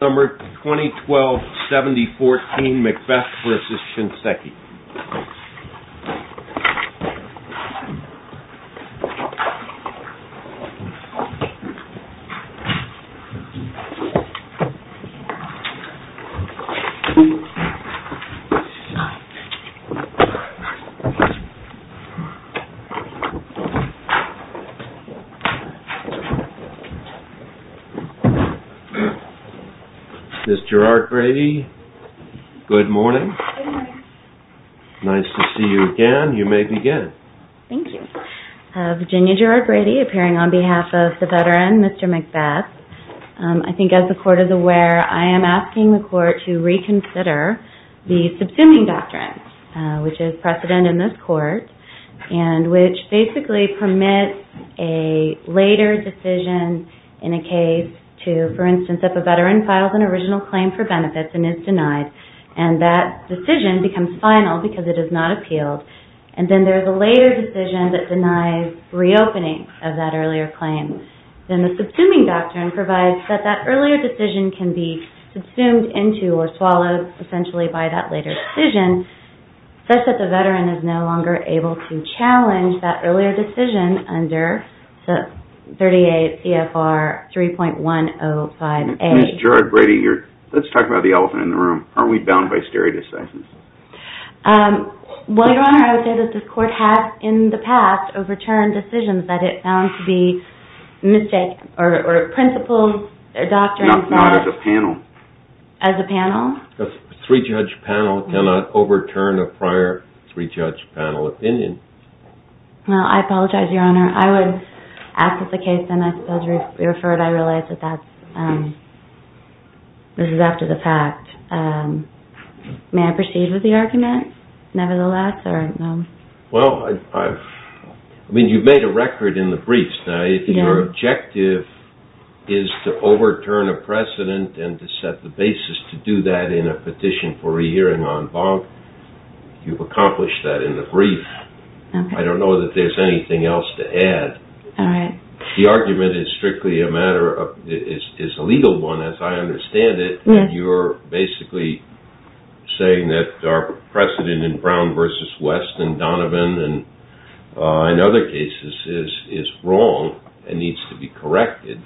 Summer 2012 7014 MCBETH v. SHINSEKI Miss Gerard Grady Good morning Nice to see you again. You may begin. Thank you Virginia Gerard Grady appearing on behalf of the veteran. Mr. McBeth. I think as the court is aware I am asking the court to reconsider the subsuming doctrine which is precedent in this court and which basically permits a later decision in a case to for instance if a veteran files an original claim for benefits and is denied and that Decision becomes final because it is not appealed and then there is a later decision that denies reopening of that earlier claim Then the subsuming doctrine provides that that earlier decision can be subsumed into or swallowed essentially by that later decision such that the veteran is no longer able to challenge that earlier decision under the 38 CFR 3.105 a Gerard Grady here. Let's talk about the elephant in the room. Are we bound by stare decisions? Well, your honor, I would say that this court has in the past overturned decisions that it found to be Mistake or a principle their doctrine as a panel as a panel Three judge panel cannot overturn a prior three judge panel opinion Well, I apologize your honor I would act with the case and I suppose we referred I realize that that's This is after the fact May I proceed with the argument nevertheless or no. Well, I Mean you've made a record in the briefs now if your objective is To overturn a precedent and to set the basis to do that in a petition for a hearing on bonk You've accomplished that in the brief I don't know that there's anything else to add The argument is strictly a matter of it is a legal one as I understand it. Yeah, you're basically saying that our precedent in Brown versus West and Donovan and In other cases is is wrong. It needs to be corrected.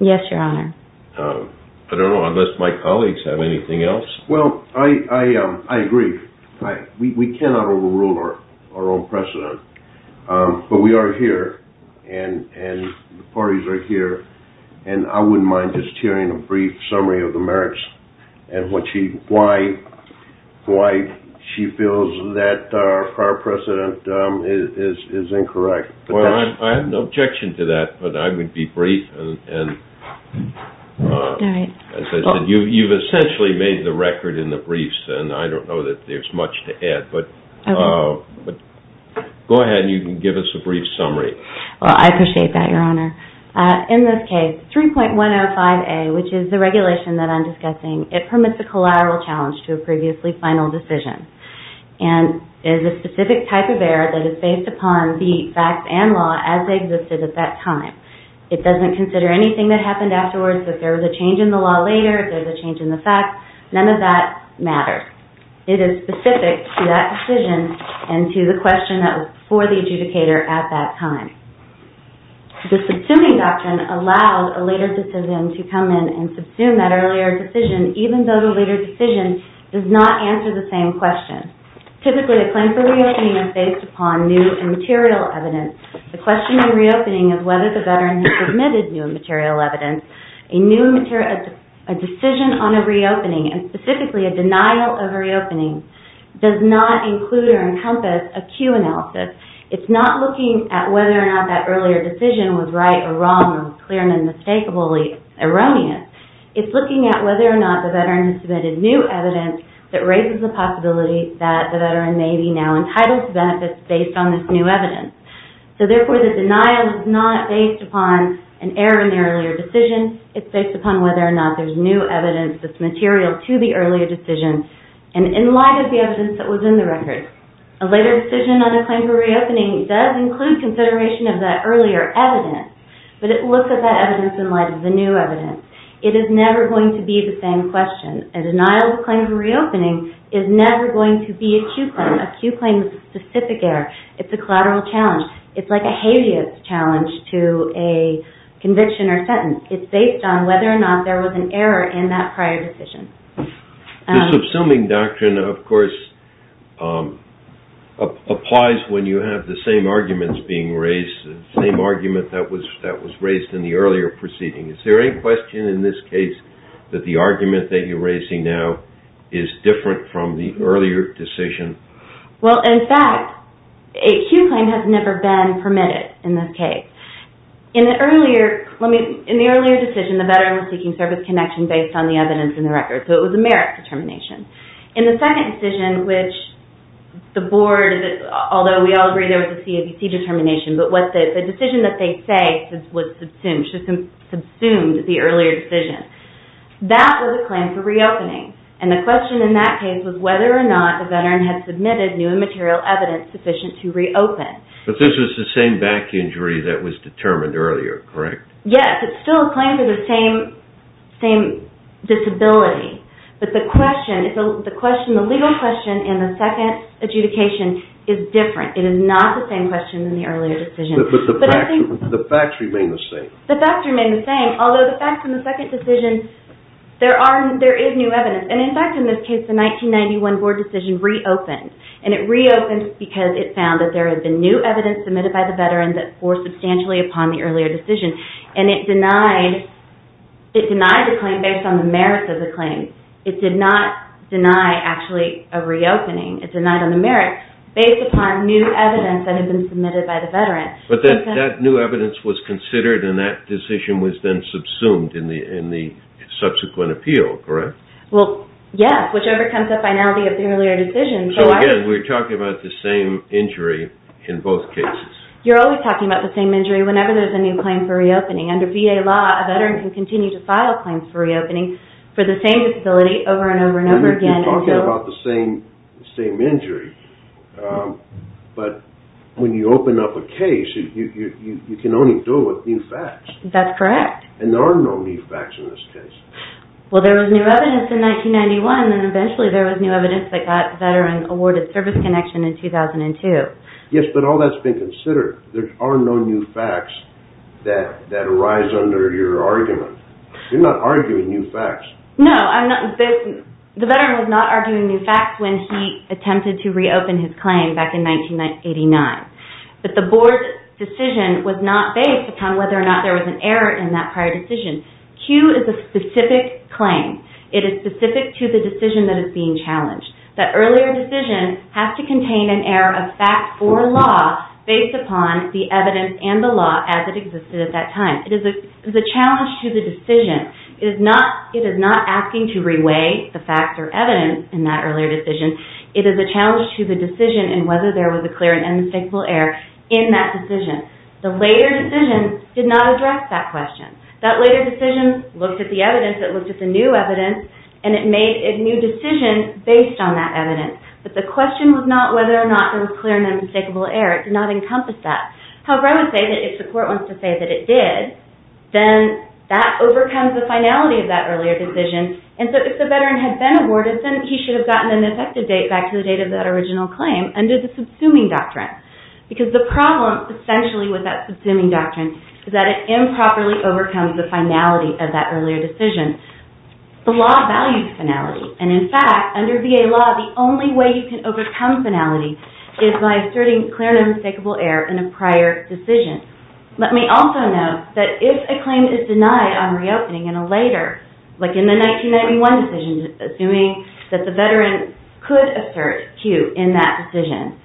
Yes, your honor I don't know unless my colleagues have anything else. Well, I Agree right we cannot overrule her our own precedent but we are here and and the parties are here and I wouldn't mind just hearing a brief summary of the merits and What she why? Why she feels that our precedent is is incorrect well, I have no objection to that, but I would be brief and As I said you you've essentially made the record in the briefs and I don't know that there's much to add but oh but Go ahead. You can give us a brief summary. Well, I appreciate that your honor in this case 3.105 a which is the regulation that I'm discussing it permits a collateral challenge to a previously final decision and Is a specific type of error that is based upon the facts and law as they existed at that time It doesn't consider anything that happened afterwards that there was a change in the law later There's a change in the fact none of that matters It is specific to that decision and to the question that was for the adjudicator at that time The subsuming doctrine allowed a later decision to come in and subsume that earlier decision Even though the later decision does not answer the same question Typically a claim for reopening is based upon new and material evidence the question in reopening is whether the veteran has submitted new and material evidence a new material a Decision on a reopening and specifically a denial of reopening does not include or encompass a Q analysis It's not looking at whether or not that earlier decision was right or wrong clear and unmistakably Erroneous it's looking at whether or not the veteran has submitted new evidence That raises the possibility that the veteran may be now entitled to benefits based on this new evidence So therefore the denial is not based upon an error in the earlier decision it's based upon whether or not there's new evidence that's material to the earlier decision and In light of the evidence that was in the record a later decision on a claim for reopening does include Consideration of that earlier evidence but it looks at that evidence in light of the new evidence it is never going to be the same question a Deniable claim for reopening is never going to be a Q claim a Q claim specific error. It's a collateral challenge it's like a habeas challenge to a Conviction or sentence it's based on whether or not there was an error in that prior decision the subsuming doctrine, of course Applies when you have the same arguments being raised the same argument that was that was raised in the earlier proceeding Is there any question in this case that the argument that you're raising now is different from the earlier decision? well, in fact a Q claim has never been permitted in this case in the earlier Let me in the earlier decision the veteran was seeking service connection based on the evidence in the record So it was a merit determination in the second decision, which the board Although we all agree there was a CBC determination But what the decision that they say since was subsumed should have been subsumed the earlier decision That was a claim for reopening and the question in that case was whether or not the veteran had submitted new and material evidence Sufficient to reopen but this is the same back injury that was determined earlier, correct? Yes. It's still a claim for the same same Disability, but the question is the question the legal question in the second adjudication is different It is not the same question in the earlier decision The facts remain the same the facts remain the same although the facts in the second decision There are there is new evidence and in fact in this case the 1991 board decision reopened and it reopens because it found that there Has been new evidence submitted by the veteran that for substantially upon the earlier decision and it denied It denied the claim based on the merits of the claim it did not deny actually a reopening It's a night on the merits based upon new evidence that had been submitted by the veteran but then that new evidence was considered and that decision was then subsumed in the in the Subsequent appeal, correct? Well, yes, whichever comes up by now the of the earlier decision So again, we're talking about the same injury in both cases You're always talking about the same injury whenever there's a new claim for reopening under VA law a veteran can continue to file claims for reopening For the same disability over and over and over again talking about the same same injury But when you open up a case you can only do it with new facts. That's correct And there are no new facts in this case Well, there was new evidence in 1991 and eventually there was new evidence that got veteran awarded service connection in 2002 Yes, but all that's been considered there are no new facts that that arise under your argument You're not arguing new facts. No, I'm not The veteran was not arguing new facts when he attempted to reopen his claim back in 1989 But the board's decision was not based upon whether or not there was an error in that prior decision Q is a specific claim It is specific to the decision that is being challenged that earlier decision has to contain an error of fact or law Based upon the evidence and the law as it existed at that time It is a challenge to the decision is not it is not asking to reweigh the facts or evidence in that earlier decision It is a challenge to the decision and whether there was a clear and unmistakable error in that decision The later decision did not address that question that later decision looked at the evidence It looked at the new evidence and it made a new decision based on that evidence But the question was not whether or not there was clear and unmistakable error. It did not encompass that However, I would say that if the court wants to say that it did Then that overcomes the finality of that earlier decision and so if the veteran had been awarded then he should have gotten an effective date back to the date of that original claim under the subsuming doctrine Because the problem essentially with that subsuming doctrine is that it improperly overcomes the finality of that earlier decision The law values finality and in fact under VA law The only way you can overcome finality is by asserting clear and unmistakable error in a prior decision Let me also know that if a claim is denied on reopening in a later like in the 1991 decision Assuming that the veteran could assert cue in that decision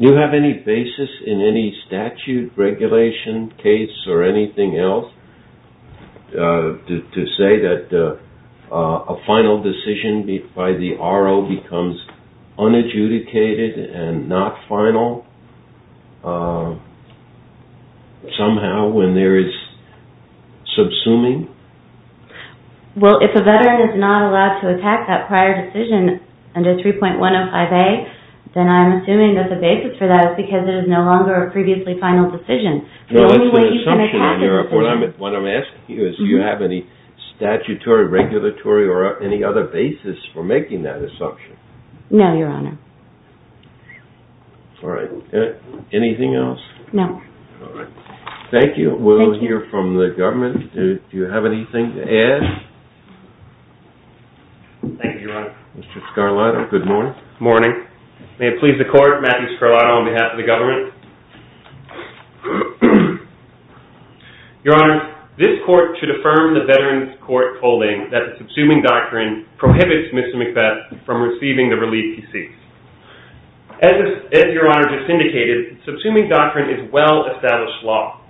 You have any basis in any statute regulation case or anything else? To say that a final decision by the RO becomes unadjudicated and not final Somehow when there is subsuming Well, if a veteran is not allowed to attack that prior decision under 3.105 a then I'm assuming that the basis for that Is because it is no longer a previously final decision No, that's an assumption in your report. What I'm asking you is do you have any Statutory regulatory or any other basis for making that assumption? No, your honor All right, anything else no, all right. Thank you. We'll hear from the government. Do you have anything to add? Mr. Scarlato, good morning morning. May it please the court Matthew Scarlato on behalf of the government Your honor this court should affirm the veterans court holding that the subsuming doctrine prohibits Mr. McBeth from receiving the relief he seeks As your honor just indicated subsuming doctrine is well established law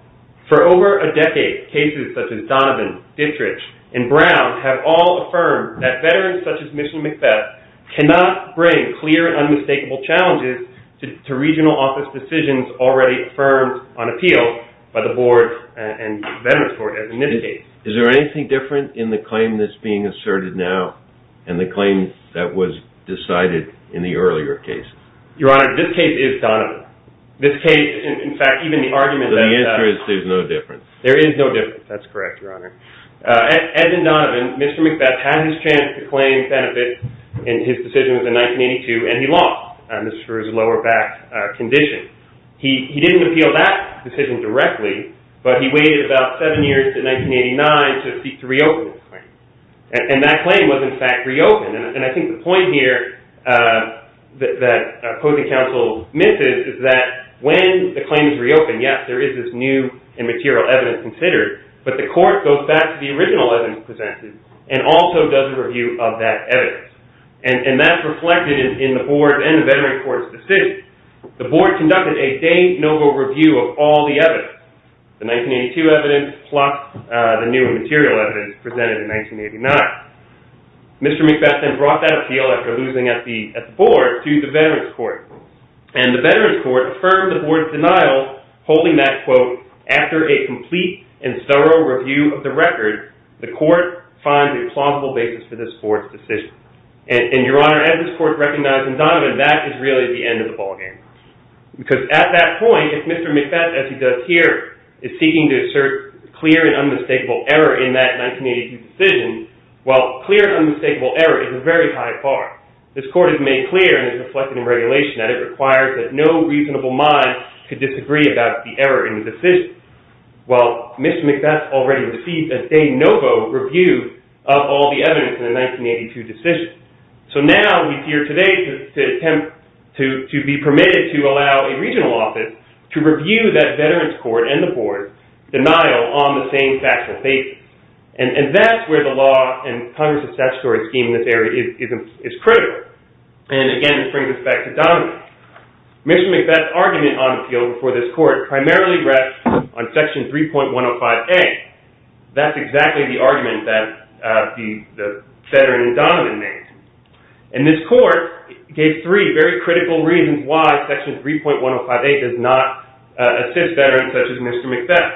For over a decade cases such as Donovan, Dittrich and Brown have all affirmed that veterans such as Mr. McBeth Cannot bring clear and unmistakable challenges to regional office decisions already affirmed on appeal by the board and Veterans court as in this case Is there anything different in the claim that's being asserted now and the claim that was decided in the earlier case? Your honor this case is Donovan this case. In fact, even the argument that the answer is there's no difference There is no difference. That's correct. Your honor Edmond Donovan, Mr. McBeth had his chance to claim benefit and his decision was in 1982 and he lost and this was for his lower back Condition he didn't appeal that decision directly, but he waited about seven years to 1989 to seek to reopen And that claim was in fact reopened and I think the point here That that opposing counsel misses is that when the claim is reopened? Yes, there is this new and material evidence considered but the court goes back to the original evidence presented and also does a review of that evidence and And that's reflected in the board and the veteran court's decision The board conducted a day-no-go review of all the evidence the 1982 evidence plus the new material evidence presented in 1989 Mr. McBeth then brought that appeal after losing at the at the board to the veterans court and the veterans court affirmed the board's denial Holding that quote after a complete and thorough review of the record the court Finds a plausible basis for this board's decision and your honor as this court recognized in Donovan That is really the end of the ballgame Because at that point if Mr. McBeth as he does here is seeking to assert clear and unmistakable error in that Decision well clear and unmistakable error is a very high bar This court is made clear and is reflected in regulation that it requires that no reasonable mind could disagree about the error in the decision Well, Mr. McBeth already received a day-no-go review of all the evidence in the 1982 decision So now we here today to attempt to to be permitted to allow a regional office to review that veterans court and the board Denial on the same factual basis and and that's where the law and Congress's statutory scheme in this area is Critical and again, it brings us back to Donovan Mr. McBeth's argument on the field before this court primarily rests on section 3.105a That's exactly the argument that the veteran in Donovan made and this court Gave three very critical reasons why section 3.105a does not Assist veterans such as Mr. McBeth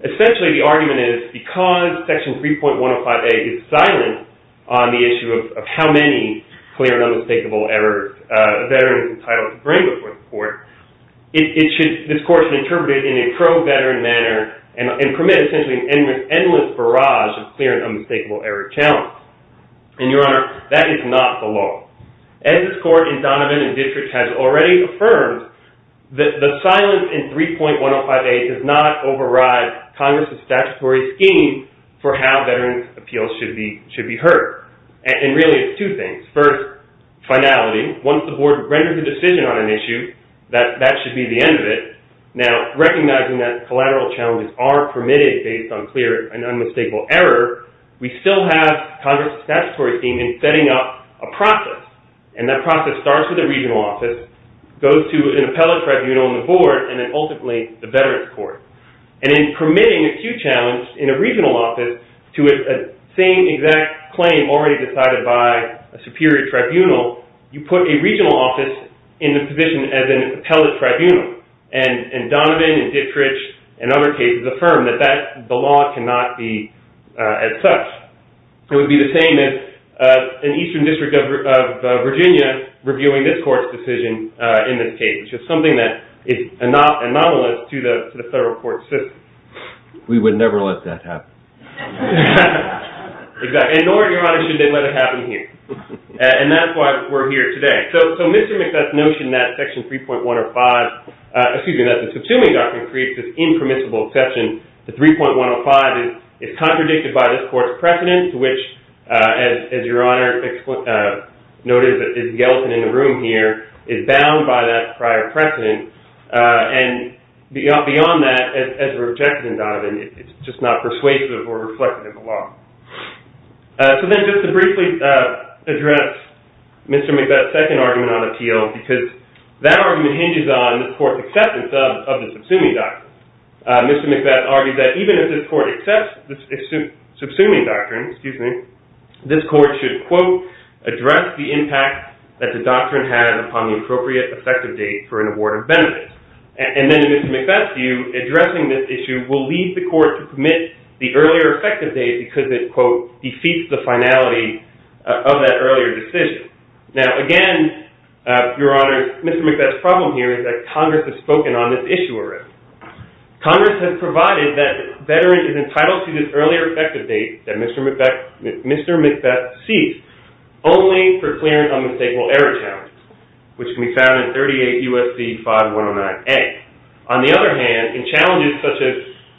Essentially the argument is because section 3.105a is silent on the issue of how many clear and unmistakable errors Veterans entitled to bring before the court It should this course interpreted in a pro veteran manner and permit essentially an endless barrage of clear and unmistakable error challenge And your honor that is not the law as this court in Donovan and districts has already affirmed That the silence in 3.105a does not override Congress's statutory scheme for how veterans appeals should be should be heard and really it's two things first Finality once the board renders a decision on an issue that that should be the end of it now Recognizing that collateral challenges are permitted based on clear and unmistakable error We still have Congress's statutory scheme in setting up a process and that process starts with a regional office Goes to an appellate tribunal on the board and then ultimately the veterans court and in permitting acute challenge in a regional office To a same exact claim already decided by a superior tribunal you put a regional office in the position as an appellate tribunal and And Donovan and Dittrich and other cases affirm that that the law cannot be as such it would be the same as an Eastern District of Virginia reviewing this court's decision in this case, which is something that is not anomalous to the federal court system We would never let that happen Exactly nor your honor should they let it happen here and that's why we're here today So mr. Mcbeth's notion that section 3.105 Excuse me, that the subsuming doctrine creates this impermissible exception The 3.105 is is contradicted by this court's precedence which as your honor Notice that is Yeltsin in the room here is bound by that prior precedent And beyond that as rejected in Donovan, it's just not persuasive or reflective of the law So then just to briefly address Mr. Mcbeth's second argument on appeal because that argument hinges on the court's acceptance of the subsuming doctrine Mr. Mcbeth argued that even if this court accepts the subsuming doctrine, excuse me this court should quote address the impact that the doctrine has upon the appropriate effective date for an award of benefits and then it is to make that to you Addressing this issue will lead the court to commit the earlier effective date because it quote defeats the finality of that earlier decision now again Your honor mr. Mcbeth problem here is that Congress has spoken on this issue arrest Congress has provided that veteran is entitled to this earlier effective date that mr. Mcbeth Mr. Mcbeth sees only for clearance on the state will ever challenge which can be found in 38 USD 5109 a on the other hand in challenges such as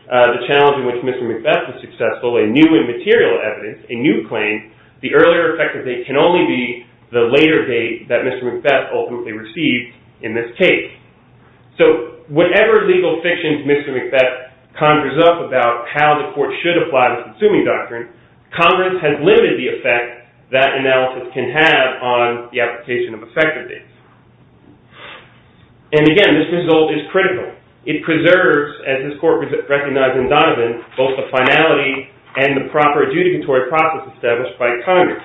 The challenge in which mr. Mcbeth was successful a new and material evidence a new claim the earlier effective date can only be The later date that mr. Mcbeth ultimately received in this case So whatever legal fictions mr. Mcbeth conjures up about how the court should apply the consuming doctrine Congress has limited the effect that analysis can have on the application of effective dates and Again, this result is critical It preserves as this court was it recognized in Donovan both the finality and the proper adjudicatory process established by Congress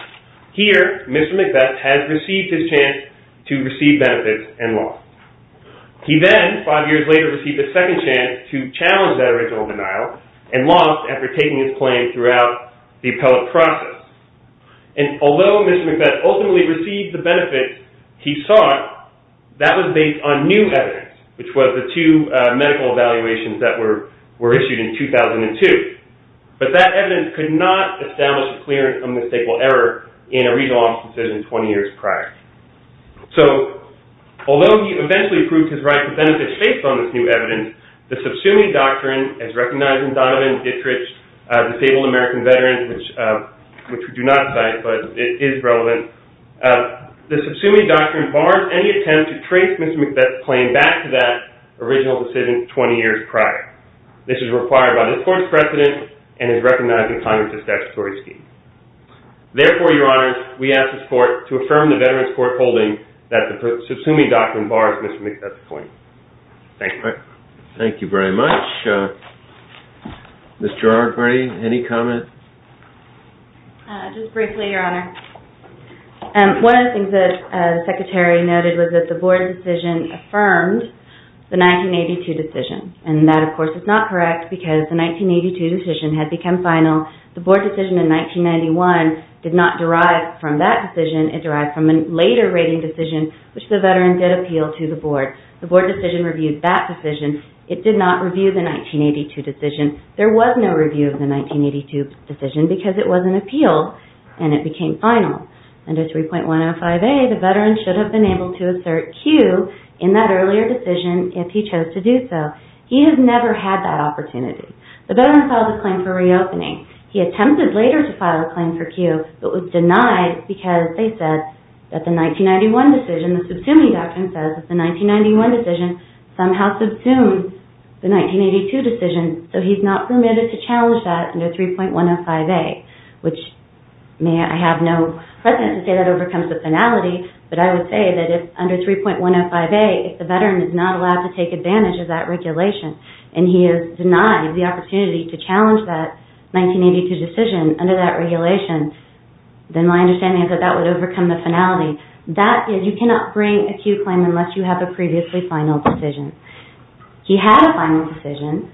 Here, mr. Mcbeth has received his chance to receive benefits and lost He then five years later received a second chance to challenge that original denial and lost after taking his claim throughout the appellate process and Although mr. Mcbeth ultimately received the benefits he sought That was based on new evidence, which was the two medical evaluations that were were issued in 2002 But that evidence could not establish a clearance on the state will ever in a regional office decision 20 years prior so Although he eventually approved his right to benefit states on this new evidence The subsuming doctrine as recognized in Donovan Dittrich Disabled American veterans, which which we do not cite, but it is relevant The subsuming doctrine bars any attempt to trace mr. Mcbeth claim back to that original decision 20 years prior This is required by the court's precedent and is recognized in Congress as statutory scheme Therefore your honor we ask this court to affirm the veterans court holding that the subsuming doctrine bars. Mr. Mcbeth's claim Thank you, thank you very much Mr. R. Gray any comment Just briefly your honor one of the things that the secretary noted was that the board decision affirmed the 1982 decision and that of course is not correct because the 1982 decision had become final the board decision in 1991 did not derive from that decision it derived from a later rating decision Which the veteran did appeal to the board the board decision reviewed that decision it did not review the 1982 decision There was no review of the 1982 decision because it was an appeal and it became final and a 3.105 a the veteran should Have been able to assert Q in that earlier decision if he chose to do so He has never had that opportunity the veteran filed a claim for reopening He attempted later to file a claim for Q but was denied because they said that the 1991 decision the subsuming doctrine says It's a 1991 decision somehow subsumed the 1982 decision So he's not permitted to challenge that under 3.105 a which may I have no present to say that overcomes the finality But I would say that if under 3.105 a if the veteran is not allowed to take advantage of that Regulation and he is denied the opportunity to challenge that 1982 decision under that regulation Then my understanding is that that would overcome the finality that is you cannot bring a Q claim unless you have a previously final decision He had a final decision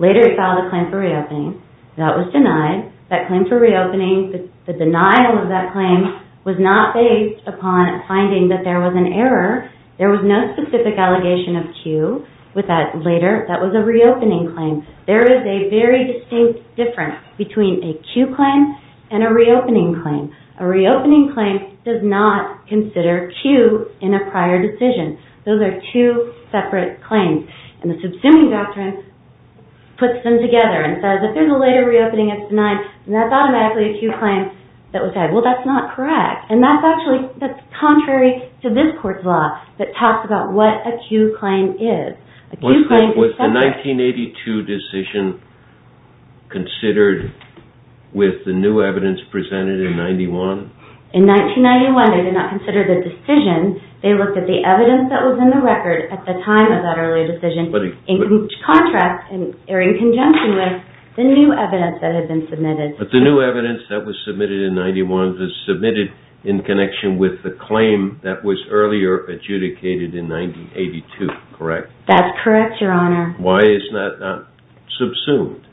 Later he filed a claim for reopening that was denied that claim for reopening The denial of that claim was not based upon finding that there was an error There was no specific allegation of Q with that later. That was a reopening claim There is a very distinct difference between a Q claim and a reopening claim a reopening claim does not Consider Q in a prior decision. Those are two separate claims and the subsuming doctrine Puts them together and says if there's a later reopening it's denied and that's automatically a Q claim that was had Well, that's not correct. And that's actually that's contrary to this court's law that talks about what a Q claim is Was the 1982 decision considered With the new evidence presented in 91 in 1991. They did not consider the decision They looked at the evidence that was in the record at the time of that early decision But in contrast and in conjunction with the new evidence that had been submitted But the new evidence that was submitted in 91 was submitted in connection with the claim that was earlier Adjudicated in 1982, correct? That's correct. Your honor. Why is that not subsumed?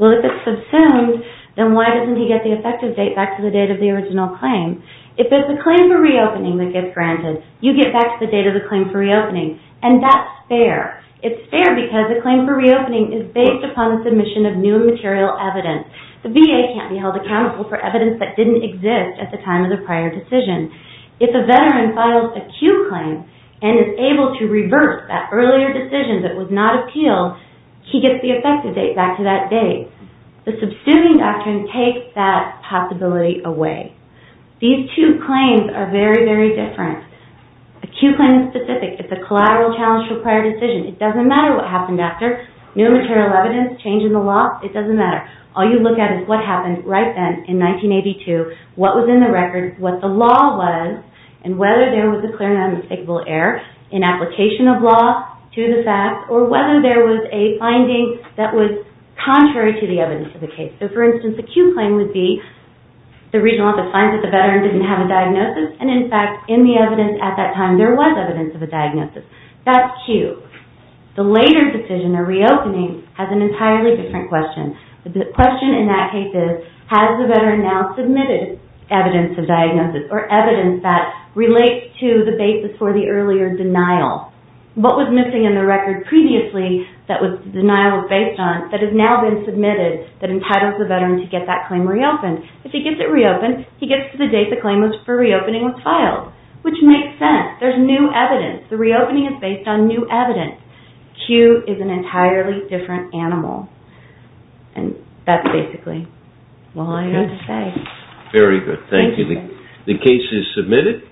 Well, if it's subsumed Then why doesn't he get the effective date back to the date of the original claim? If it's a claim for reopening that gets granted you get back to the date of the claim for reopening and that's fair It's fair because the claim for reopening is based upon the submission of new material evidence The VA can't be held accountable for evidence that didn't exist at the time of the prior decision If a veteran files a Q claim and is able to reverse that earlier decision that was not appealed He gets the effective date back to that date. The subsuming doctrine takes that possibility away These two claims are very very different A Q claim is specific. It's a collateral challenge for prior decision. It doesn't matter what happened after new material evidence change in the law It doesn't matter. All you look at is what happened right then in 1982 What was in the record what the law was and whether there was a clear and unmistakable error in application of law to the fact or whether there was a finding that was Contrary to the evidence of the case. So for instance, the Q claim would be The regional office finds that the veteran didn't have a diagnosis and in fact in the evidence at that time There was evidence of a diagnosis. That's Q The later decision or reopening has an entirely different question The question in that case is has the veteran now submitted evidence of diagnosis or evidence that Relates to the basis for the earlier denial What was missing in the record previously that was the denial was based on that has now been submitted That entitles the veteran to get that claim reopened if he gets it reopened He gets to the date the claim was for reopening was filed, which makes sense There's new evidence. The reopening is based on new evidence Q is an entirely different animal and That's basically why I say very good. Thank you. The case is submitted